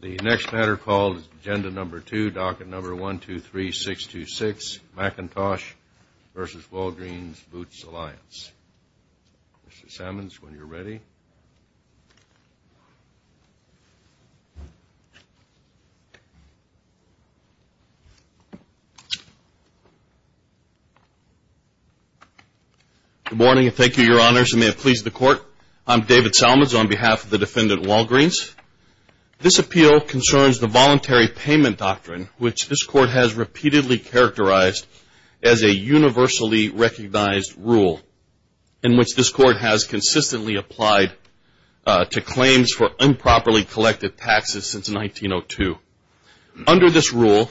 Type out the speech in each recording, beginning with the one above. The next matter called is Agenda No. 2, Docket No. 123626, McIntosh v. Walgreens Boots Alliance. Mr. Sammons, when you're ready. Good morning and thank you, Your Honors, and may it please the Court. I'm David Sammons on behalf of the defendant, Walgreens. This appeal concerns the voluntary payment doctrine, which this Court has repeatedly characterized as a universally recognized rule, and which this Court has consistently applied to claims for improperly collected taxes since 1902. Under this rule,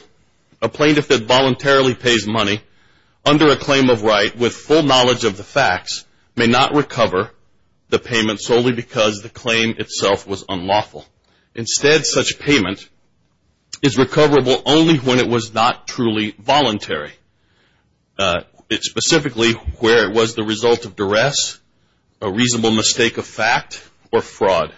a plaintiff that voluntarily pays money under a claim of right with full knowledge of the facts may not recover the payment solely because the claim itself was unlawful. Instead, such payment is recoverable only when it was not truly voluntary, specifically where it was the result of duress, a reasonable mistake of fact, or fraud.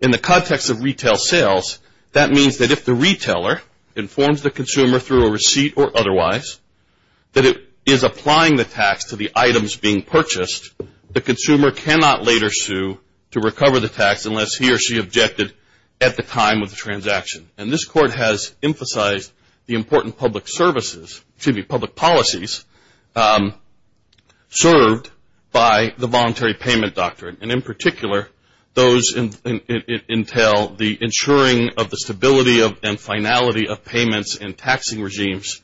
In the context of retail sales, that means that if the retailer informs the consumer through a receipt or otherwise that it is applying the tax to the items being purchased, the consumer cannot later sue to recover the tax unless he or she objected at the time of the transaction. And this Court has emphasized the important public services, excuse me, public policies served by the voluntary payment doctrine. And in particular, those entail the ensuring of the stability and finality of payments in taxing regimes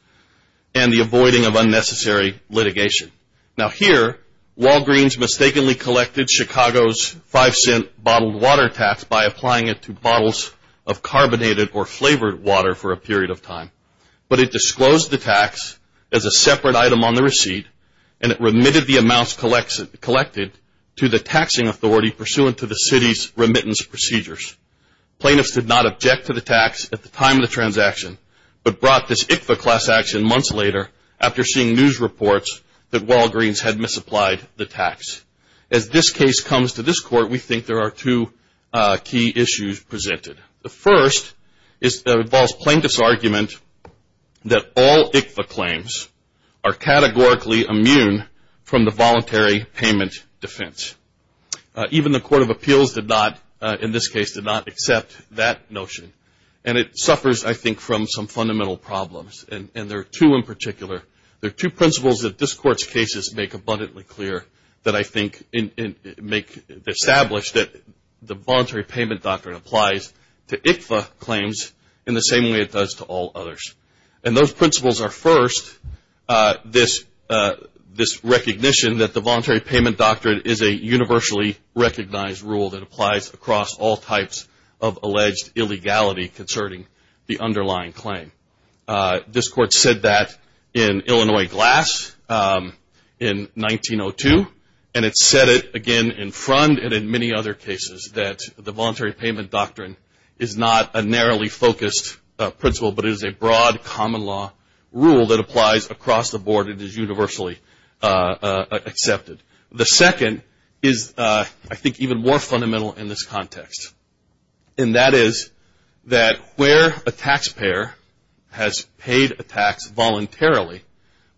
and the avoiding of unnecessary litigation. Now here, Walgreens mistakenly collected Chicago's five-cent bottled water tax by applying it to bottles of carbonated or flavored water for a period of time, but it disclosed the tax as a separate item on the receipt and it remitted the amounts collected to the taxing authority pursuant to the city's remittance procedures. Plaintiffs did not object to the tax at the time of the transaction, but brought this ICFA class action months later after seeing news reports that Walgreens had misapplied the tax. As this case comes to this Court, we think there are two key issues presented. The first involves plaintiff's argument that all ICFA claims are categorically immune from the voluntary payment defense. Even the Court of Appeals did not, in this case, did not accept that notion. And it suffers, I think, from some fundamental problems, and there are two in particular. There are two principles that this Court's cases make abundantly clear that I think make established that the voluntary payment doctrine applies to ICFA claims in the same way it does to all others. And those principles are, first, this recognition that the voluntary payment doctrine is a universally recognized rule that applies across all types of alleged illegality concerning the underlying claim. This Court said that in Illinois Glass in 1902, and it said it again in front and in many other cases that the voluntary payment doctrine is not a narrowly focused principle, but it is a broad common law rule that applies across the board and is universally accepted. The second is, I think, even more fundamental in this context. And that is that where a taxpayer has paid a tax voluntarily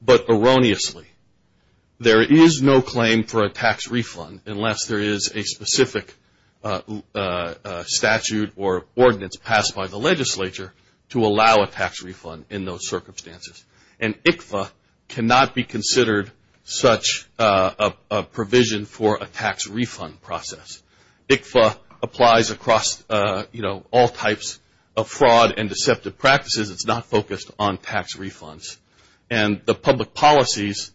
but erroneously, there is no claim for a tax refund unless there is a specific statute or ordinance passed by the legislature to allow a tax refund in those circumstances. And ICFA cannot be considered such a provision for a tax refund process. ICFA applies across, you know, all types of fraud and deceptive practices. It's not focused on tax refunds. And the public policies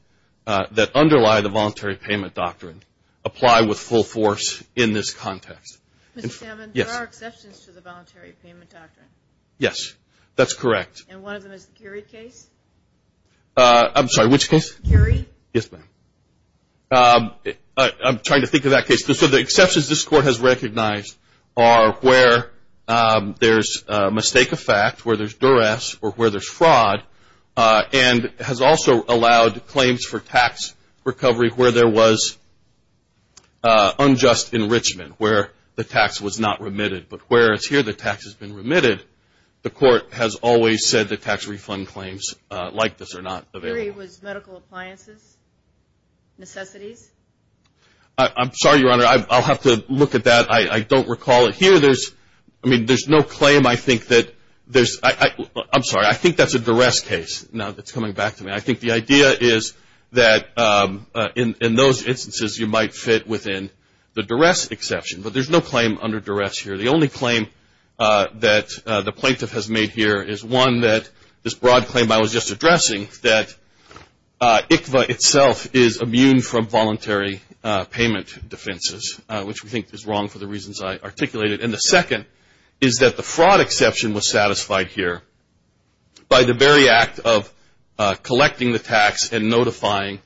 that underlie the voluntary payment doctrine apply with full force in this context. Mr. Salmon, there are exceptions to the voluntary payment doctrine. Yes, that's correct. And one of them is the Cary case? I'm sorry, which case? Cary. Yes, ma'am. I'm trying to think of that case. So the exceptions this Court has recognized are where there's a mistake of fact, where there's duress, or where there's fraud, and has also allowed claims for tax recovery where there was unjust enrichment, where the tax was not remitted. But whereas here the tax has been remitted, the Court has always said that tax refund claims like this are not available. Cary, was medical appliances necessities? I'm sorry, Your Honor. I'll have to look at that. I don't recall it here. I mean, there's no claim I think that there's – I'm sorry. I think that's a duress case now that's coming back to me. I think the idea is that in those instances you might fit within the duress exception. But there's no claim under duress here. The only claim that the plaintiff has made here is one that this broad claim I was just addressing, that ICVA itself is immune from voluntary payment defenses, which we think is wrong for the reasons I articulated. And the second is that the fraud exception was satisfied here by the very act of collecting the tax and notifying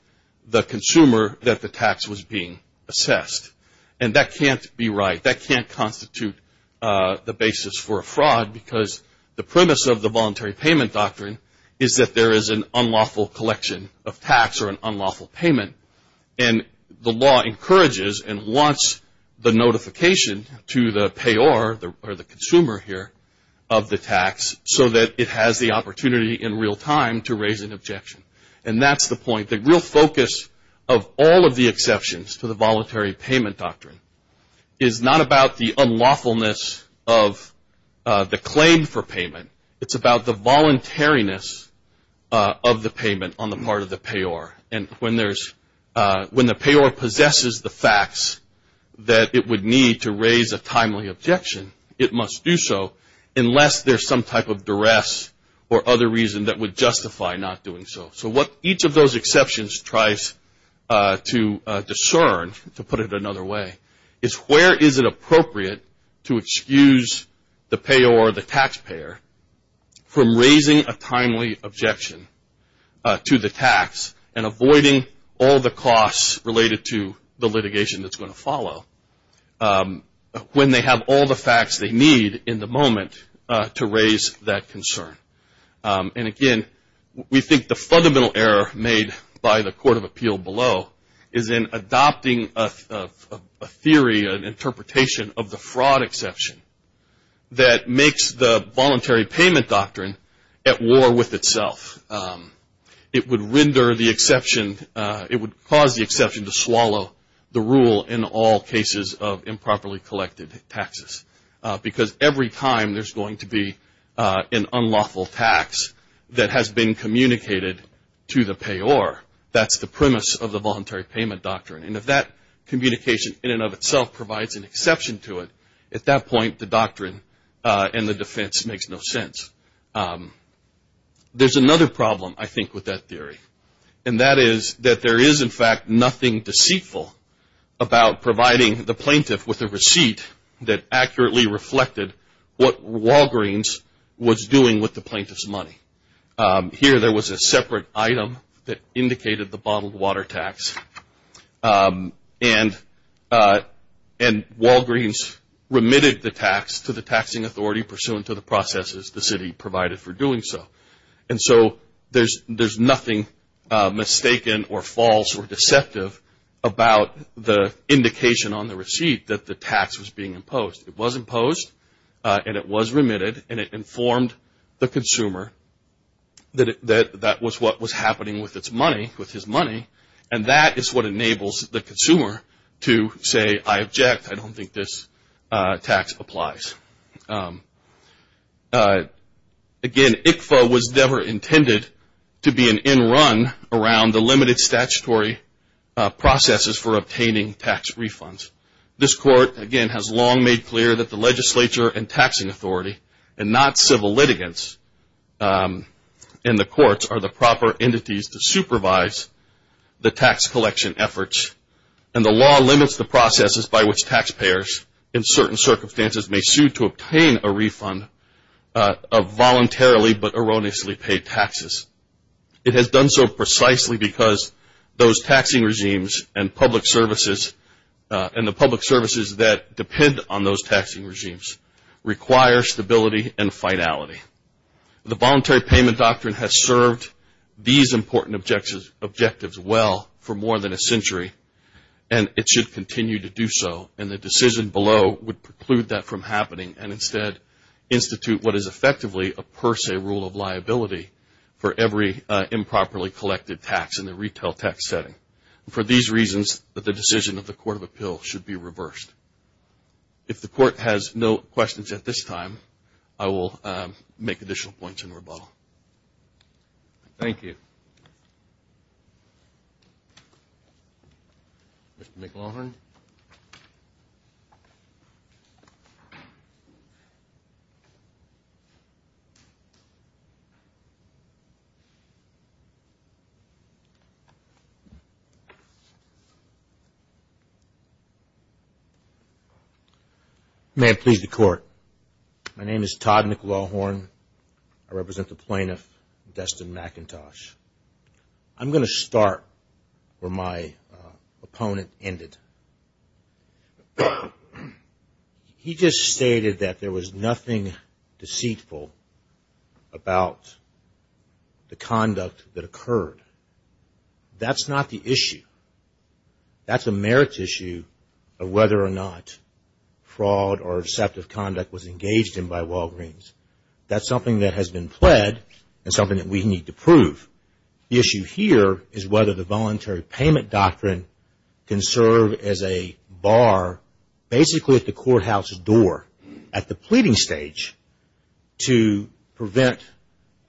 the consumer that the tax was being assessed. And that can't be right. That can't constitute the basis for a fraud because the premise of the voluntary payment doctrine is that there is an unlawful collection of tax or an unlawful payment. And the law encourages and wants the notification to the payer or the consumer here of the tax so that it has the opportunity in real time to raise an objection. And that's the point. The real focus of all of the exceptions to the voluntary payment doctrine is not about the unlawfulness of the claim for payment. It's about the voluntariness of the payment on the part of the payer. And when the payer possesses the facts that it would need to raise a timely objection, it must do so unless there's some type of duress or other reason that would justify not doing so. So what each of those exceptions tries to discern, to put it another way, is where is it appropriate to excuse the payer or the taxpayer from raising a timely objection to the tax and avoiding all the costs related to the litigation that's going to follow when they have all the facts they need in the moment to raise that concern. And again, we think the fundamental error made by the Court of Appeal below is in adopting a theory, an interpretation of the fraud exception that makes the voluntary payment doctrine at war with itself. It would cause the exception to swallow the rule in all cases of improperly collected taxes because every time there's going to be an unlawful tax that has been communicated to the payer. That's the premise of the voluntary payment doctrine. And if that communication in and of itself provides an exception to it, at that point the doctrine and the defense makes no sense. There's another problem, I think, with that theory. And that is that there is, in fact, nothing deceitful about providing the plaintiff with a receipt that accurately reflected what Walgreens was doing with the plaintiff's money. Here there was a separate item that indicated the bottled water tax, and Walgreens remitted the tax to the taxing authority pursuant to the processes the city provided for doing so. And so there's nothing mistaken or false or deceptive about the indication on the receipt that the tax was being imposed. It was imposed, and it was remitted, and it informed the consumer that that was what was happening with his money. And that is what enables the consumer to say, I object, I don't think this tax applies. Again, ICFA was never intended to be an end run around the limited statutory processes for obtaining tax refunds. This court, again, has long made clear that the legislature and taxing authority, and not civil litigants in the courts, are the proper entities to supervise the tax collection efforts. And the law limits the processes by which taxpayers, in certain circumstances, may sue to obtain a refund of voluntarily but erroneously paid taxes. It has done so precisely because those taxing regimes and public services, and the public services that depend on those taxing regimes, require stability and finality. The voluntary payment doctrine has served these important objectives well for more than a century, and it should continue to do so, and the decision below would preclude that from happening and instead institute what is effectively a per se rule of liability for every improperly collected tax in the retail tax setting. For these reasons, the decision of the Court of Appeal should be reversed. If the court has no questions at this time, I will make additional points in rebuttal. Thank you. Mr. McLaughlin. May it please the Court. My name is Todd McLaughlin. I represent the plaintiff, Destin McIntosh. I'm going to start where my opponent ended. He just stated that there was nothing deceitful about the conduct that occurred. That's not the issue. That's a merit issue of whether or not fraud or deceptive conduct was engaged in by Walgreens. That's something that has been pled and something that we need to prove. The issue here is whether the voluntary payment doctrine can serve as a bar, basically at the courthouse door, at the pleading stage, to prevent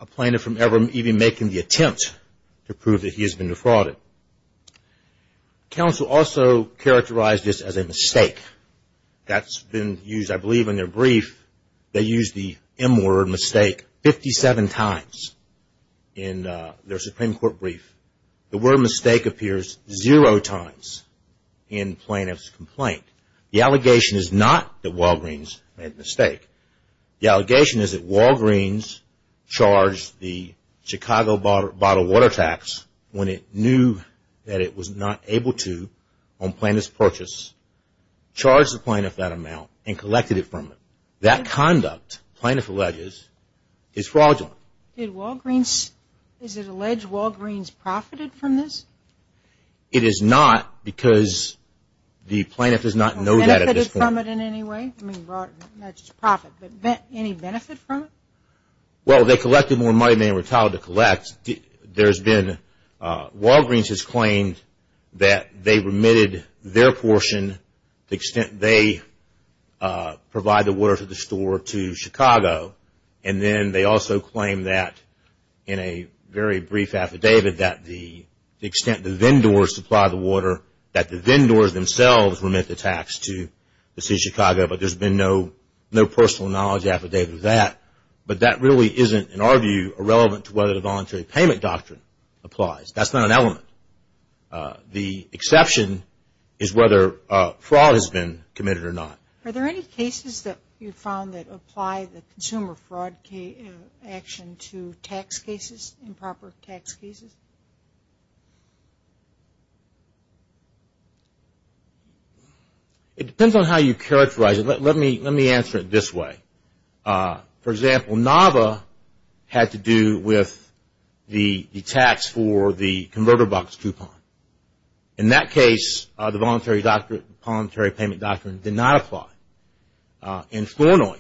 a plaintiff from even making the attempt to prove that he has been defrauded. Counsel also characterized this as a mistake. That's been used, I believe, in their brief. They used the M word, mistake, 57 times in their Supreme Court brief. The word mistake appears zero times in plaintiff's complaint. The allegation is not that Walgreens made the mistake. The allegation is that Walgreens charged the Chicago Bottle Water Tax when it knew that it was not able to, on plaintiff's purchase, charged the plaintiff that amount and collected it from them. That conduct, plaintiff alleges, is fraudulent. Did Walgreens, is it alleged Walgreens profited from this? It is not because the plaintiff does not know that at this point. Benefited from it in any way? I mean, not just profit, but any benefit from it? Well, they collected more money than they were entitled to collect. Walgreens has claimed that they remitted their portion, the extent they provide the water to the store, to Chicago. And then they also claim that, in a very brief affidavit, that the extent the vendors supply the water, that the vendors themselves remit the tax to the city of Chicago, but there's been no personal knowledge affidavit of that. But that really isn't, in our view, irrelevant to whether the voluntary payment doctrine applies. That's not an element. The exception is whether fraud has been committed or not. Are there any cases that you've found that apply the consumer fraud action to tax cases, improper tax cases? It depends on how you characterize it. Let me answer it this way. For example, NAVA had to do with the tax for the converter box coupon. In that case, the voluntary payment doctrine did not apply. In Flournoy,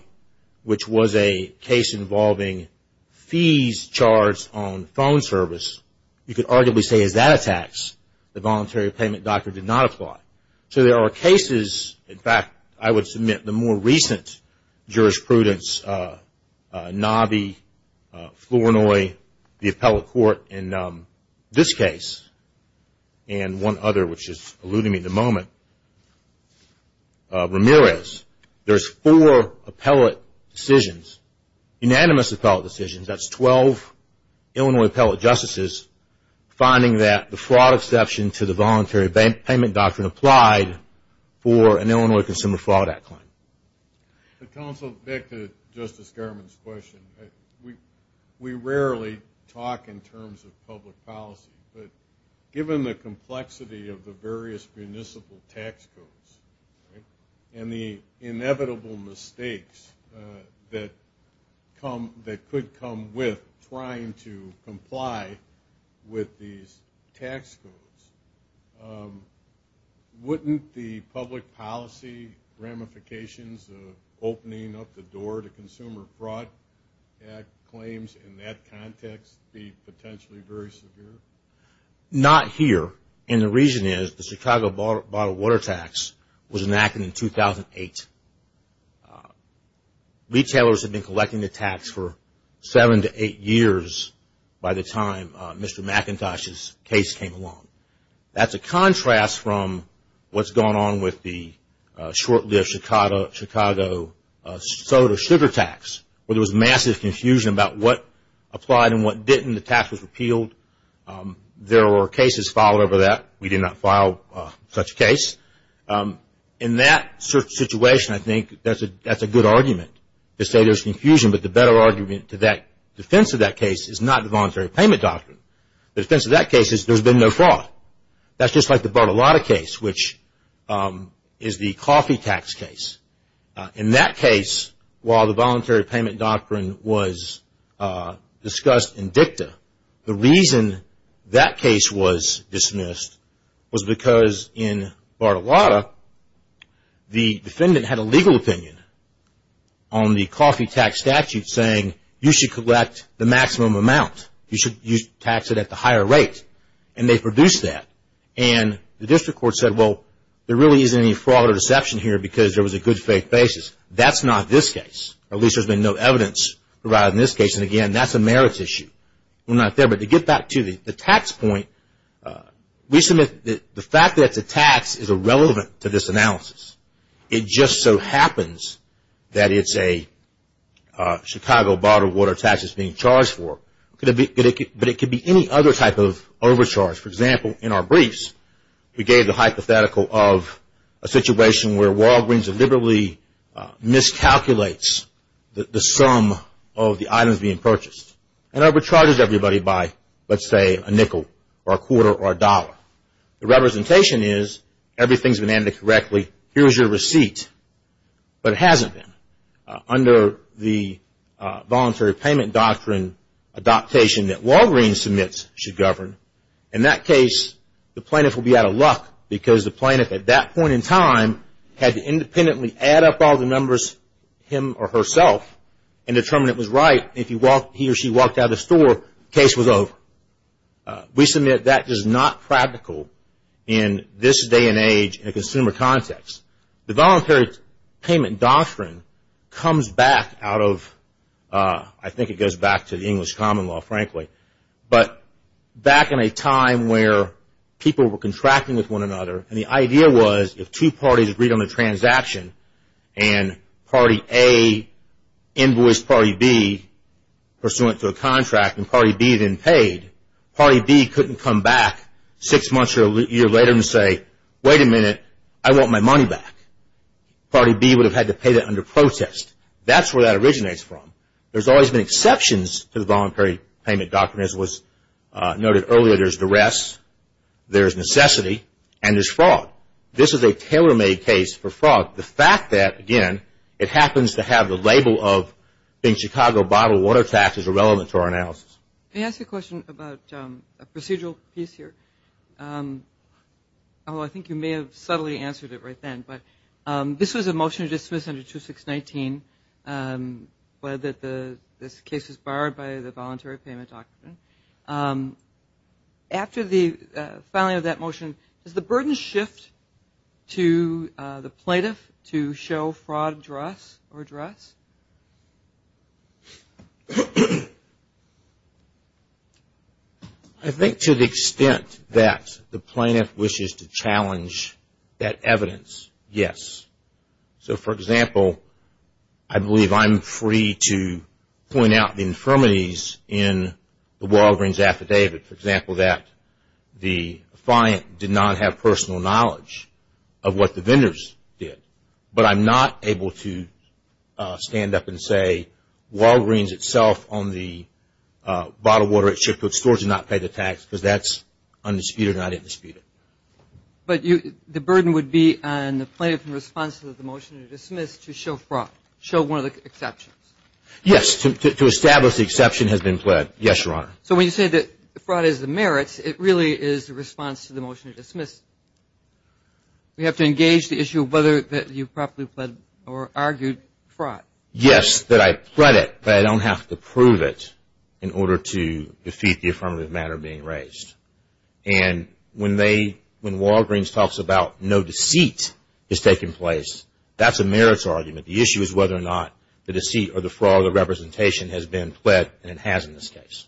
which was a case involving fees charged on phone service, you could arguably say as that attacks, the voluntary payment doctrine did not apply. So there are cases, in fact, I would submit the more recent jurisprudence, NAVI, Flournoy, the appellate court in this case, and one other which is eluding me at the moment, Ramirez. There's four appellate decisions, unanimous appellate decisions. That's 12 Illinois appellate justices finding that the fraud exception to the voluntary payment doctrine applied for an Illinois Consumer Fraud Act claim. Counsel, back to Justice Garmon's question. We rarely talk in terms of public policy, but given the complexity of the various municipal tax codes and the inevitable mistakes that could come with trying to comply with these tax codes, wouldn't the public policy ramifications of opening up the door to Consumer Fraud Act claims in that context be potentially very severe? Not here, and the reason is the Chicago bottled water tax was enacted in 2008. Retailers had been collecting the tax for seven to eight years by the time Mr. McIntosh's case came along. That's a contrast from what's going on with the short-lived Chicago soda sugar tax where there was massive confusion about what applied and what didn't. The tax was repealed. There were cases filed over that. We did not file such a case. In that situation, I think that's a good argument to say there's confusion, but the better argument to that defense of that case is not the voluntary payment doctrine. The defense of that case is there's been no fraud. That's just like the bottled water case, which is the coffee tax case. In that case, while the voluntary payment doctrine was discussed in dicta, the reason that case was dismissed was because in bottled water, the defendant had a legal opinion on the coffee tax statute saying, you should collect the maximum amount. You should tax it at the higher rate, and they produced that. The district court said, well, there really isn't any fraud or deception here because there was a good faith basis. That's not this case, or at least there's been no evidence provided in this case. Again, that's a merits issue. To get back to the tax point, we submit that the fact that it's a tax is irrelevant to this analysis. It just so happens that it's a Chicago bottled water tax that's being charged for, but it could be any other type of overcharge. For example, in our briefs, we gave the hypothetical of a situation where Walgreens deliberately miscalculates the sum of the items being purchased and overcharges everybody by, let's say, a nickel or a quarter or a dollar. The representation is everything's been handed correctly. Here's your receipt, but it hasn't been. Under the voluntary payment doctrine, adaptation that Walgreens submits should govern. In that case, the plaintiff will be out of luck because the plaintiff at that point in time had to independently add up all the numbers, him or herself, and determine it was right. If he or she walked out of the store, case was over. We submit that is not practical in this day and age in a consumer context. The voluntary payment doctrine comes back out of, I think it goes back to the English common law, frankly, but back in a time where people were contracting with one another. The idea was if two parties agreed on a transaction and party A invoiced party B pursuant to a contract and party B then paid, party B couldn't come back six months or a year later and say, wait a minute, I want my money back. Party B would have had to pay that under protest. That's where that originates from. There's always been exceptions to the voluntary payment doctrine. As was noted earlier, there's duress, there's necessity, and there's fraud. This is a tailor-made case for fraud. The fact that, again, it happens to have the label of being Chicago bottled water tax is irrelevant to our analysis. May I ask a question about a procedural piece here? I think you may have subtly answered it right then, but this was a motion to dismiss under 2619, but this case was barred by the voluntary payment doctrine. After the filing of that motion, does the burden shift to the plaintiff to show fraud address or address? I think to the extent that the plaintiff wishes to challenge that evidence, yes. So, for example, I believe I'm free to point out the infirmities in the Walgreens affidavit. For example, that the client did not have personal knowledge of what the vendors did, but I'm not able to stand up and say Walgreens itself on the bottled water at Chippewa stores did not pay the tax because that's undisputed or not indisputed. But the burden would be on the plaintiff in response to the motion to dismiss to show fraud, show one of the exceptions. Yes, to establish the exception has been pled. Yes, Your Honor. So when you say that fraud is the merits, it really is the response to the motion to dismiss. We have to engage the issue of whether you properly pled or argued fraud. Yes, that I pled it, but I don't have to prove it in order to defeat the affirmative matter being raised. And when Walgreens talks about no deceit is taking place, that's a merits argument. The issue is whether or not the deceit or the fraud of the representation has been pled, and it has in this case.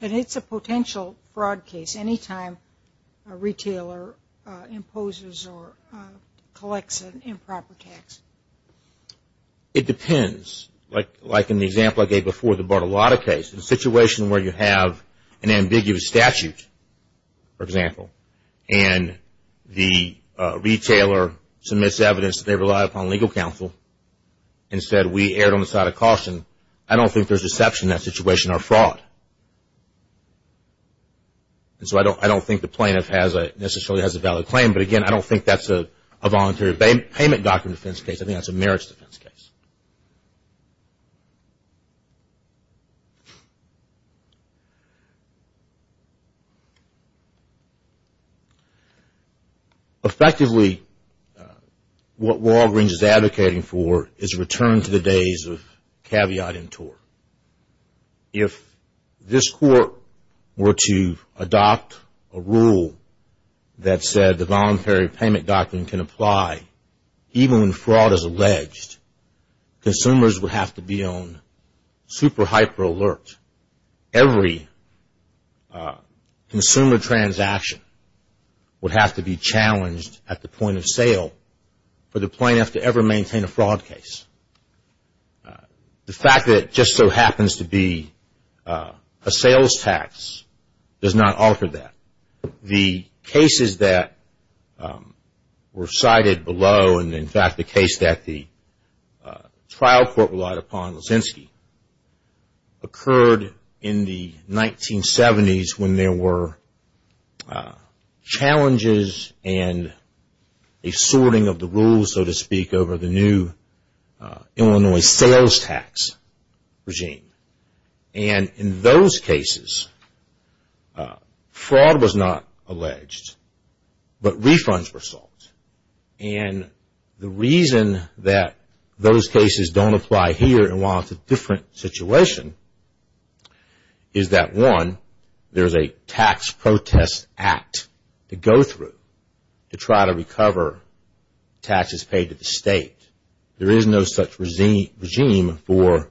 And it's a potential fraud case any time a retailer imposes or collects an improper tax. It depends. Like in the example I gave before, the Bartolotta case, the situation where you have an ambiguous statute, for example, and the retailer submits evidence that they rely upon legal counsel and said we erred on the side of caution. I don't think there's a deception in that situation or fraud. And so I don't think the plaintiff necessarily has a valid claim. But again, I don't think that's a voluntary payment doctrine defense case. I think that's a merits defense case. Effectively, what Walgreens is advocating for is a return to the days of caveat in tort. If this court were to adopt a rule that said the voluntary payment doctrine can apply even when fraud is alleged, consumers would have to be on super hyper alert. Every consumer transaction would have to be challenged at the point of sale for the plaintiff to ever maintain a fraud case. The fact that it just so happens to be a sales tax does not alter that. The cases that were cited below and, in fact, the case that the trial court relied upon, Leszczynski, occurred in the 1970s when there were challenges and a sorting of the rules, so to speak, over the new Illinois sales tax regime. And in those cases, fraud was not alleged, but refunds were sought. And the reason that those cases don't apply here and while it's a different situation is that, one, there's a tax protest act to go through to try to recover taxes paid to the state. There is no such regime for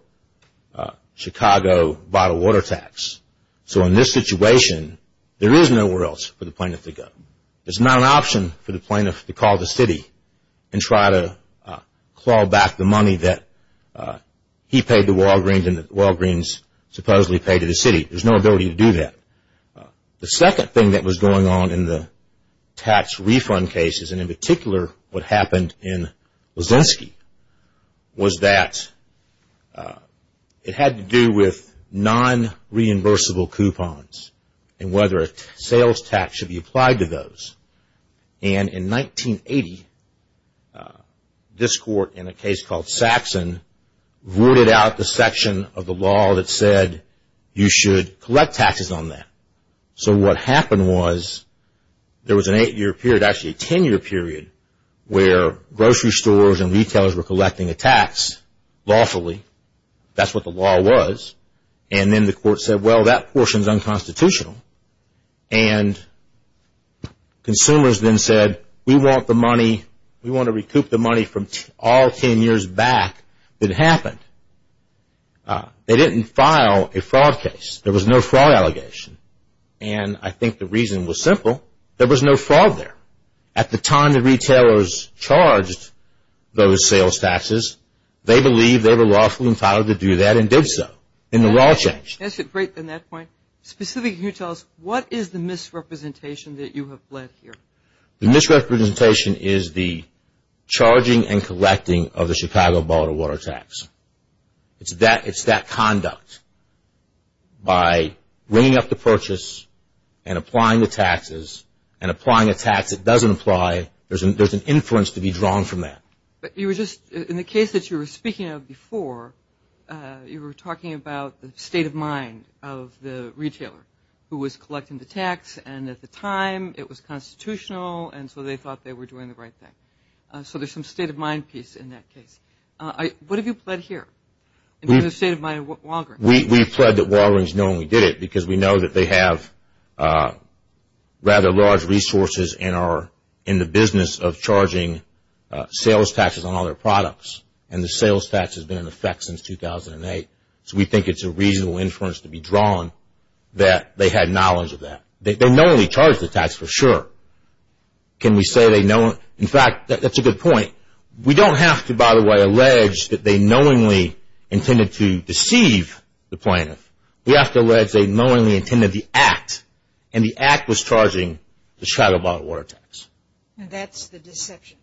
Chicago bottled water tax. So in this situation, there is nowhere else for the plaintiff to go. There's not an option for the plaintiff to call the city and try to claw back the money that he paid to Walgreens and that Walgreens supposedly paid to the city. There's no ability to do that. The second thing that was going on in the tax refund cases, and in particular what happened in Leszczynski, was that it had to do with non-reimbursable coupons and whether a sales tax should be applied to those. And in 1980, this court, in a case called Saxon, rooted out the section of the law that said you should collect taxes on that. So what happened was there was an eight-year period, actually a ten-year period, where grocery stores and retailers were collecting a tax lawfully. That's what the law was. And then the court said, well, that portion is unconstitutional. And consumers then said, we want the money, we want to recoup the money from all ten years back that happened. They didn't file a fraud case. There was no fraud allegation. And I think the reason was simple. There was no fraud there. At the time the retailers charged those sales taxes, they believed they were lawfully entitled to do that and did so in the law change. That's a great point. Specifically, can you tell us what is the misrepresentation that you have led here? The misrepresentation is the charging and collecting of the Chicago Bottle of Water tax. It's that conduct by bringing up the purchase and applying the taxes and applying a tax that doesn't apply. There's an inference to be drawn from that. In the case that you were speaking of before, you were talking about the state of mind of the retailer who was collecting the tax, and at the time it was constitutional and so they thought they were doing the right thing. So there's some state of mind piece in that case. What have you pled here in the state of mind of Walgreens? We pled that Walgreens knowingly did it because we know that they have rather large resources in the business of charging sales taxes on all their products, and the sales tax has been in effect since 2008. So we think it's a reasonable inference to be drawn that they had knowledge of that. They knowingly charged the tax for sure. Can we say they know? In fact, that's a good point. We don't have to, by the way, allege that they knowingly intended to deceive the plaintiff. We have to allege they knowingly intended the act, and the act was charging the shadow bottle of water tax. That's the deception.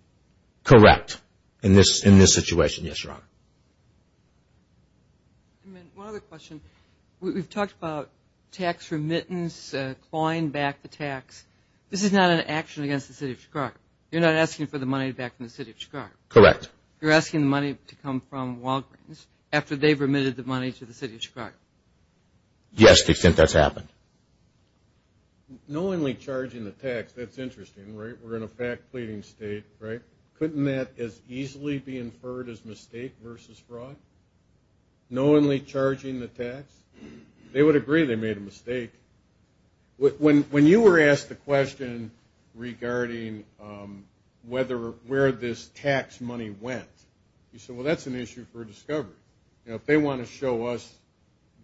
Correct, in this situation, yes, Your Honor. One other question. We've talked about tax remittance, clawing back the tax. This is not an action against the city of Chicago. You're not asking for the money back from the city of Chicago? Correct. You're asking the money to come from Walgreens after they've remitted the money to the city of Chicago? Yes, to the extent that's happened. Knowingly charging the tax, that's interesting, right? We're in a fact-pleading state, right? Couldn't that as easily be inferred as mistake versus fraud, knowingly charging the tax? They would agree they made a mistake. When you were asked the question regarding where this tax money went, you said, well, that's an issue for Discover. If they want to show us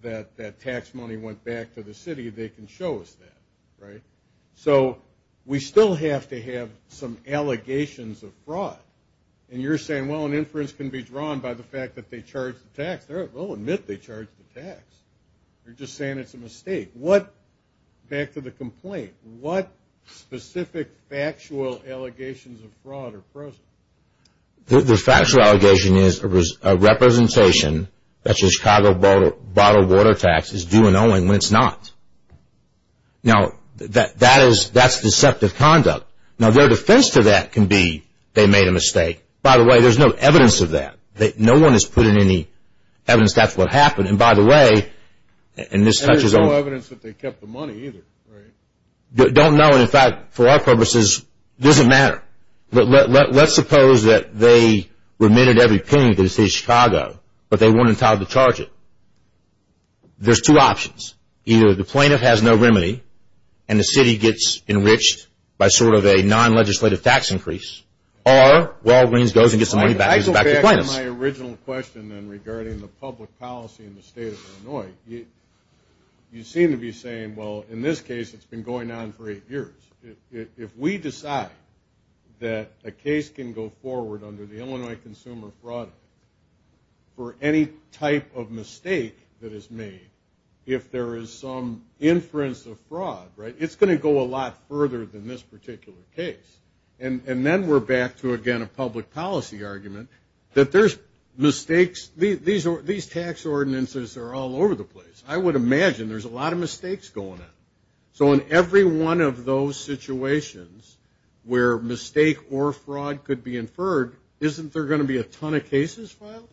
that that tax money went back to the city, they can show us that, right? So we still have to have some allegations of fraud. And you're saying, well, an inference can be drawn by the fact that they charged the tax. They'll admit they charged the tax. You're just saying it's a mistake. Back to the complaint, what specific factual allegations of fraud are present? The factual allegation is a representation that your Chicago bottled water tax is due and owing when it's not. Now, that's deceptive conduct. Now, their defense to that can be they made a mistake. By the way, there's no evidence of that. No one has put in any evidence that's what happened. And there's no evidence that they kept the money either, right? Don't know. In fact, for our purposes, it doesn't matter. Let's suppose that they remitted every penny to the city of Chicago, but they weren't entitled to charge it. There's two options. Either the plaintiff has no remedy and the city gets enriched by sort of a non-legislative tax increase, or Walgreens goes and gets the money back to the plaintiffs. My original question then regarding the public policy in the state of Illinois, you seem to be saying, well, in this case, it's been going on for eight years. If we decide that a case can go forward under the Illinois Consumer Fraud Act for any type of mistake that is made, if there is some inference of fraud, right, it's going to go a lot further than this particular case. And then we're back to, again, a public policy argument that there's mistakes. These tax ordinances are all over the place. I would imagine there's a lot of mistakes going on. So in every one of those situations where mistake or fraud could be inferred, isn't there going to be a ton of cases filed?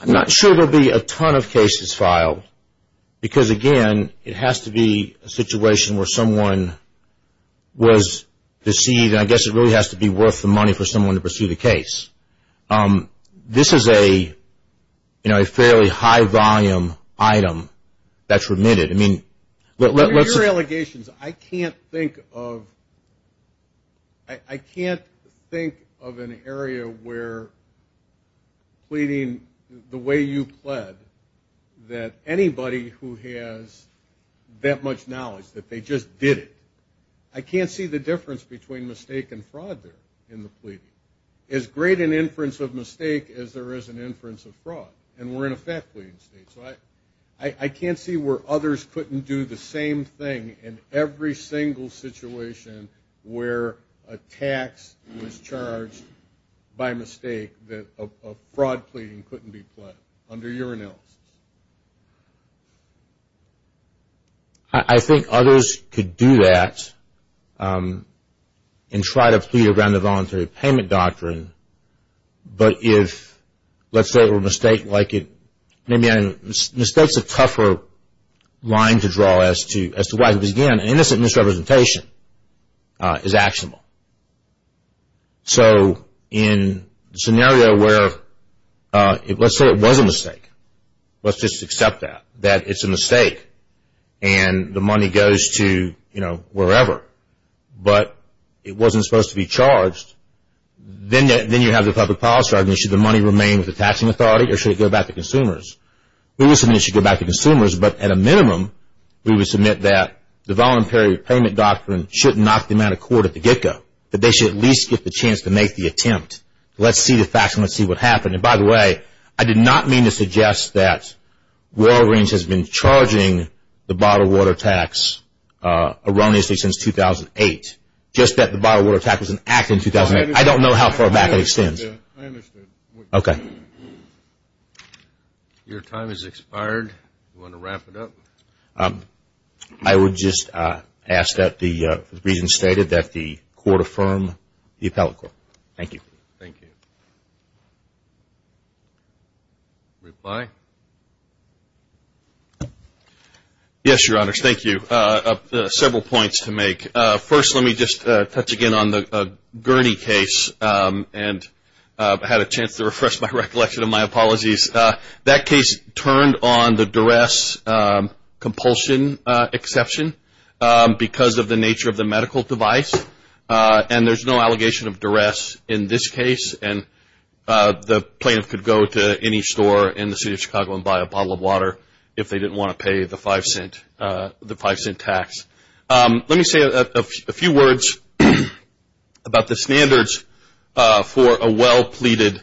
I'm not sure there will be a ton of cases filed because, again, it has to be a situation where someone was deceived, and I guess it really has to be worth the money for someone to pursue the case. This is a fairly high-volume item that's remitted. With your allegations, I can't think of an area where pleading the way you pled, that anybody who has that much knowledge that they just did it. I can't see the difference between mistake and fraud there in the pleading. As great an inference of mistake as there is an inference of fraud, and we're in a fat-pleading state. So I can't see where others couldn't do the same thing in every single situation where a tax was charged by mistake that a fraud pleading couldn't be pled under your analysis. I think others could do that and try to plead around the voluntary payment doctrine. But if, let's say, a mistake is a tougher line to draw as to why to begin, an innocent misrepresentation is actionable. So in a scenario where, let's say it was a mistake, let's just accept that, that it's a mistake and the money goes to wherever, but it wasn't supposed to be charged, then you have the public policy argument, should the money remain with the taxing authority or should it go back to consumers? We would submit it should go back to consumers, but at a minimum, we would submit that the voluntary payment doctrine should knock them out of court at the get-go, that they should at least get the chance to make the attempt. Let's see the facts and let's see what happened. And by the way, I did not mean to suggest that Royal Range has been charging the bottled water tax erroneously since 2008, just that the bottled water tax was enacted in 2008. I don't know how far back it extends. I understand. Okay. Your time has expired. Do you want to wrap it up? I would just ask that the reason stated that the court affirm the appellate court. Thank you. Thank you. Reply. Yes, Your Honors. Thank you. I have several points to make. First, let me just touch again on the Gurney case. And I had a chance to refresh my recollection of my apologies. That case turned on the duress compulsion exception because of the nature of the medical device. And there's no allegation of duress in this case. And the plaintiff could go to any store in the city of Chicago and buy a bottle of water if they didn't want to pay the five-cent tax. Let me say a few words about the standards for a well-pleaded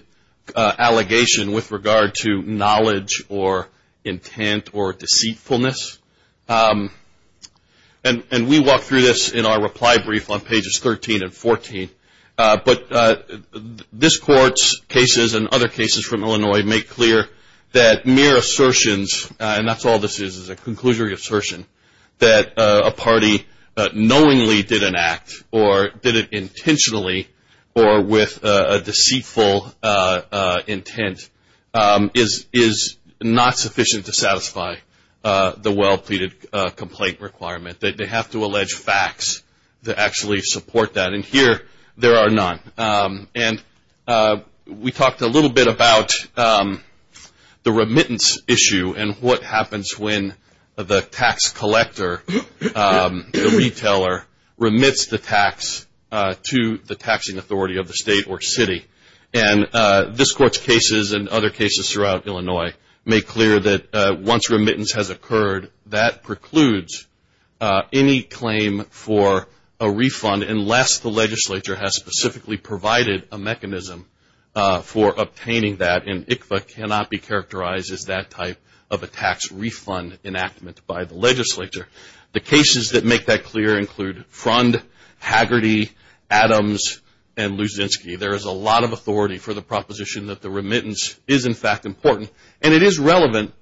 allegation with regard to knowledge or intent or deceitfulness. And we walk through this in our reply brief on pages 13 and 14. But this Court's cases and other cases from Illinois make clear that mere assertions, and that's all this is, is a conclusionary assertion, that a party knowingly did an act or did it intentionally or with a deceitful intent is not sufficient to satisfy the well-pleaded complaint requirement. They have to allege facts to actually support that. And here there are none. And we talked a little bit about the remittance issue and what happens when the tax collector, the retailer, remits the tax to the taxing authority of the state or city. And this Court's cases and other cases throughout Illinois make clear that once remittance has occurred, that precludes any claim for a refund unless the legislature has specifically provided a mechanism for obtaining that. And ICFA cannot be characterized as that type of a tax refund enactment by the legislature. The cases that make that clear include Frond, Haggerty, Adams, and Luzinski. There is a lot of authority for the proposition that the remittance is, in fact, important. And it is relevant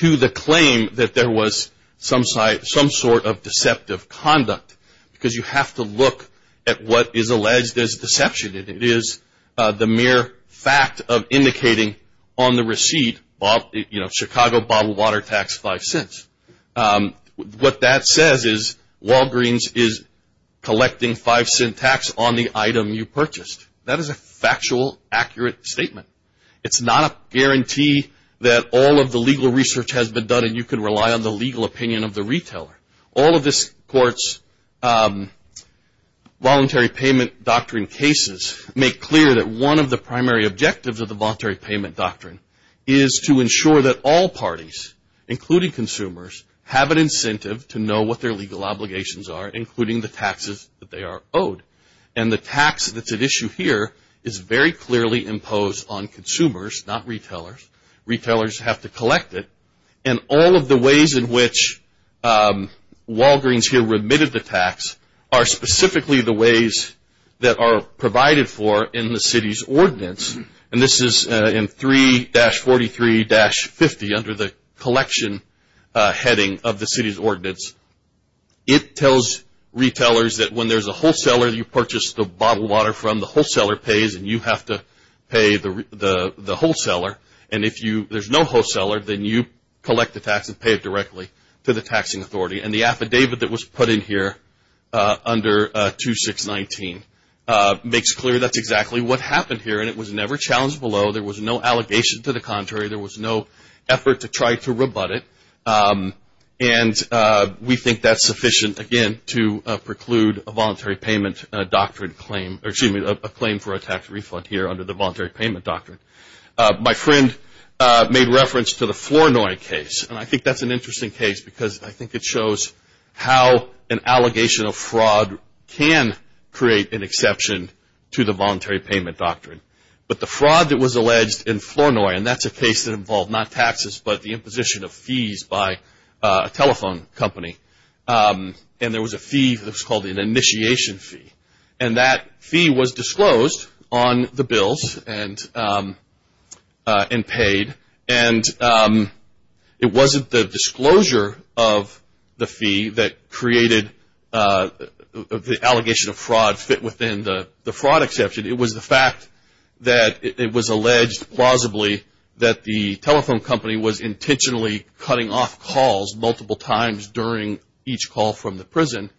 to the claim that there was some sort of deceptive conduct because you have to look at what is alleged as deception. It is the mere fact of indicating on the receipt, you know, Chicago bottled water tax, five cents. What that says is Walgreens is collecting five cent tax on the item you purchased. That is a factual, accurate statement. It is not a guarantee that all of the legal research has been done and you can rely on the legal opinion of the retailer. All of this Court's Voluntary Payment Doctrine cases make clear that one of the primary objectives of the Voluntary Payment Doctrine is to ensure that all parties, including consumers, have an incentive to know what their legal obligations are, including the taxes that they are owed. And the tax that is at issue here is very clearly imposed on consumers, not retailers. Retailers have to collect it. And all of the ways in which Walgreens here remitted the tax are specifically the ways that are provided for in the city's ordinance. And this is in 3-43-50 under the collection heading of the city's ordinance. It tells retailers that when there's a wholesaler you purchased the bottled water from, the wholesaler pays and you have to pay the wholesaler. And if there's no wholesaler, then you collect the tax and pay it directly to the taxing authority. And the affidavit that was put in here under 2-6-19 makes clear that's exactly what happened here and it was never challenged below. There was no allegation to the contrary. There was no effort to try to rebut it. And we think that's sufficient, again, to preclude a voluntary payment doctrine claim, or excuse me, a claim for a tax refund here under the voluntary payment doctrine. My friend made reference to the Flournoy case. And I think that's an interesting case because I think it shows how an allegation of fraud can create an exception to the voluntary payment doctrine. But the fraud that was alleged in Flournoy, and that's a case that involved not taxes, but the imposition of fees by a telephone company. And there was a fee that was called an initiation fee. And that fee was disclosed on the bills and paid. And it wasn't the disclosure of the fee that created the allegation of fraud fit within the fraud exception. It was the fact that it was alleged plausibly that the telephone company was intentionally cutting off calls multiple times during each call from the prison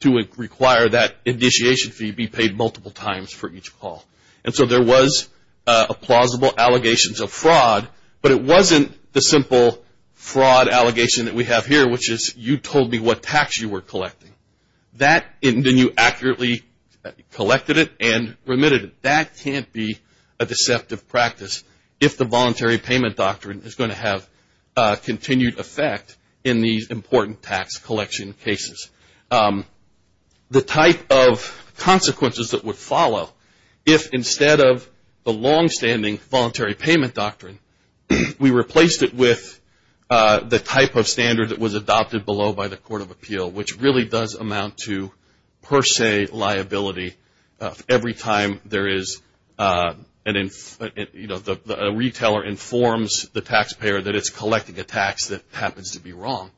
to require that initiation fee be paid multiple times for each call. And so there was plausible allegations of fraud, but it wasn't the simple fraud allegation that we have here, which is you told me what tax you were collecting. And then you accurately collected it and remitted it. That can't be a deceptive practice if the voluntary payment doctrine is going to have continued effect in these important tax collection cases. The type of consequences that would follow if instead of the longstanding voluntary payment doctrine, we replaced it with the type of standard that was adopted below by the Court of Appeal, which really does amount to per se liability. Every time a retailer informs the taxpayer that it's collecting a tax that happens to be wrong,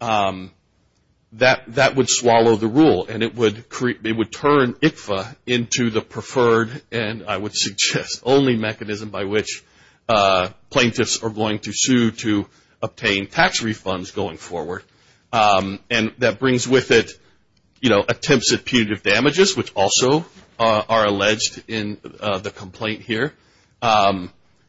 that would swallow the rule and it would turn ICFA into the preferred and I would suggest only mechanism by which plaintiffs are going to sue to obtain tax refunds going forward. And that brings with it, you know, attempts at punitive damages, which also are alleged in the complaint here.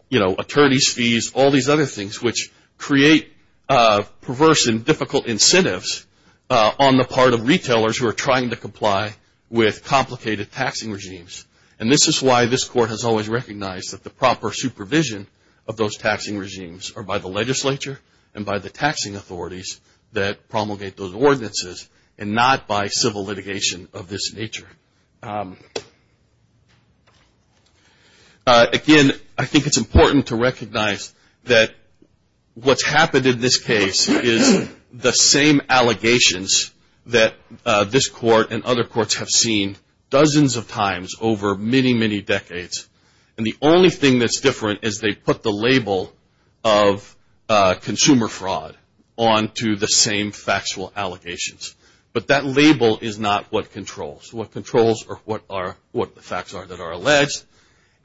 You know, attorneys' fees, all these other things, which create perverse and difficult incentives on the part of retailers who are trying to comply with complicated taxing regimes. And this is why this Court has always recognized that the proper supervision of those taxing regimes are by the legislature and by the taxing authorities that promulgate those ordinances and not by civil litigation of this nature. Again, I think it's important to recognize that what's happened in this case is the same allegations that this Court and other courts have seen dozens of times over many, many decades. And the only thing that's different is they put the label of consumer fraud onto the same factual allegations. But that label is not what controls. What controls are what the facts are that are alleged.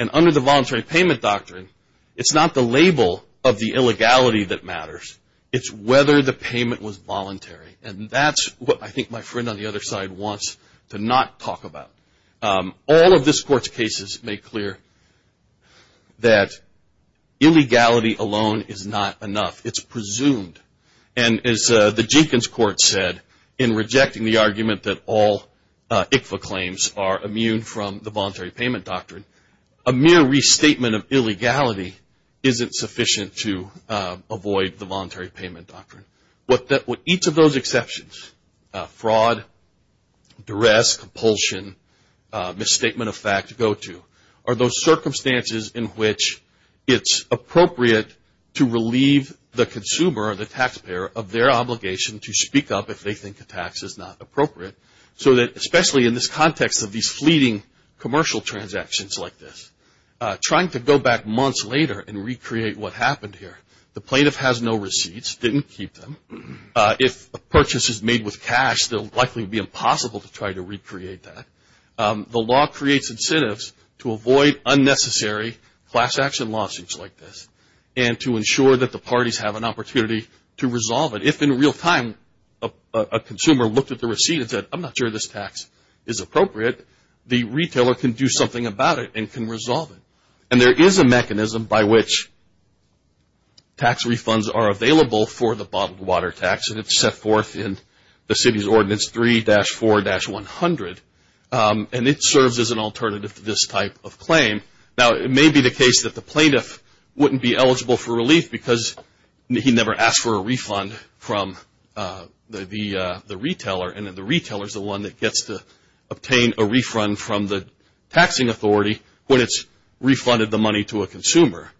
And under the voluntary payment doctrine, it's not the label of the illegality that matters. It's whether the payment was voluntary. And that's what I think my friend on the other side wants to not talk about. All of this Court's cases make clear that illegality alone is not enough. It's presumed. And as the Jenkins Court said in rejecting the argument that all ICFA claims are immune from the voluntary payment doctrine, a mere restatement of illegality isn't sufficient to avoid the voluntary payment doctrine. What each of those exceptions, fraud, duress, compulsion, misstatement of fact, go to, are those circumstances in which it's appropriate to relieve the consumer or the taxpayer of their obligation to speak up if they think a tax is not appropriate. So that especially in this context of these fleeting commercial transactions like this, trying to go back months later and recreate what happened here. The plaintiff has no receipts, didn't keep them. If a purchase is made with cash, they'll likely be impossible to try to recreate that. The law creates incentives to avoid unnecessary class action lawsuits like this and to ensure that the parties have an opportunity to resolve it. If in real time a consumer looked at the receipt and said, I'm not sure this tax is appropriate, the retailer can do something about it and can resolve it. And there is a mechanism by which tax refunds are available for the bottled water tax and it's set forth in the city's ordinance 3-4-100. And it serves as an alternative to this type of claim. Now, it may be the case that the plaintiff wouldn't be eligible for relief because he never asked for a refund from the retailer. And the retailer is the one that gets to obtain a refund from the taxing authority when it's refunded the money to a consumer.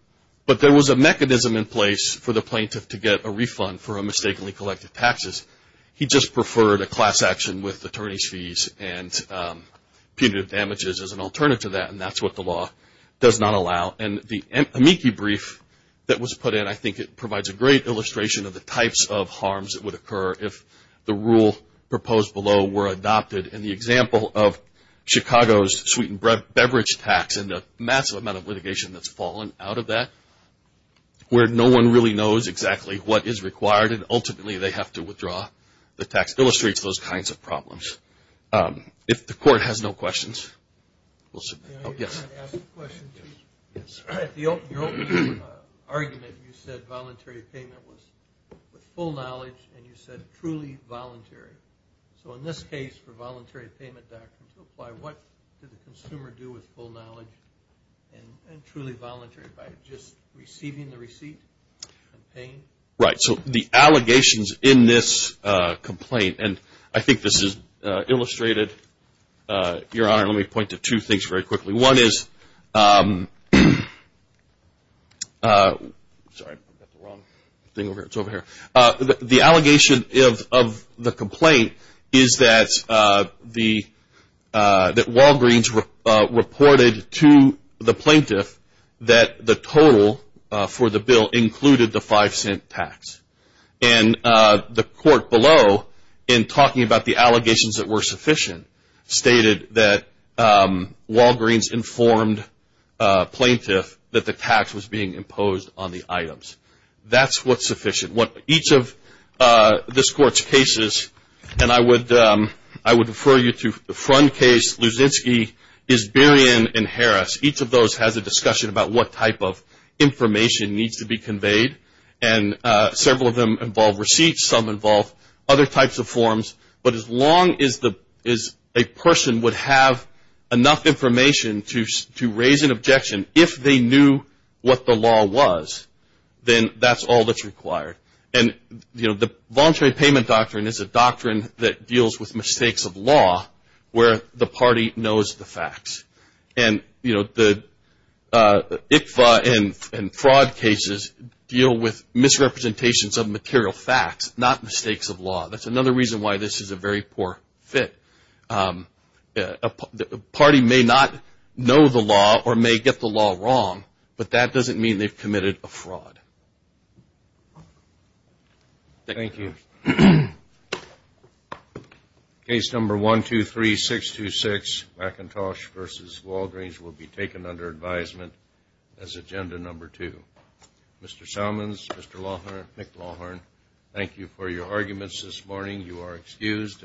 But there was a mechanism in place for the plaintiff to get a refund for a mistakenly collected taxes. He just preferred a class action with attorney's fees and punitive damages as an alternative to that, and that's what the law does not allow. And the amici brief that was put in, I think it provides a great illustration of the types of harms that would occur if the rule proposed below were adopted. And the example of Chicago's sweetened beverage tax and the massive amount of litigation that's fallen out of that, where no one really knows exactly what is required and ultimately they have to withdraw the tax, illustrates those kinds of problems. If the court has no questions. Yes. Your argument, you said voluntary payment was with full knowledge, and you said truly voluntary. So in this case, for voluntary payment documents, apply what did the consumer do with full knowledge and truly voluntary, by just receiving the receipt and paying? Right. So the allegations in this complaint, and I think this is illustrated. Your Honor, let me point to two things very quickly. One is, sorry, I've got the wrong thing over here. It's over here. The allegation of the complaint is that Walgreens reported to the plaintiff that the total for the bill included the five cent tax. And the court below, in talking about the allegations that were sufficient, stated that Walgreens informed plaintiff that the tax was being imposed on the items. That's what's sufficient. Each of this Court's cases, and I would refer you to the front case, Luzinski, Isberian, and Harris. Each of those has a discussion about what type of information needs to be conveyed. And several of them involve receipts. Some involve other types of forms. But as long as a person would have enough information to raise an objection, if they knew what the law was, then that's all that's required. And, you know, the voluntary payment doctrine is a doctrine that deals with mistakes of law, where the party knows the facts. And, you know, the ICFA and fraud cases deal with misrepresentations of material facts, not mistakes of law. That's another reason why this is a very poor fit. A party may not know the law or may get the law wrong, but that doesn't mean they've committed a fraud. Thank you. Case number 123-626, McIntosh v. Walgreens, will be taken under advisement as agenda number two. Mr. Salmons, Mr. Lawhorn, Nick Lawhorn, thank you for your arguments this morning. You are excused.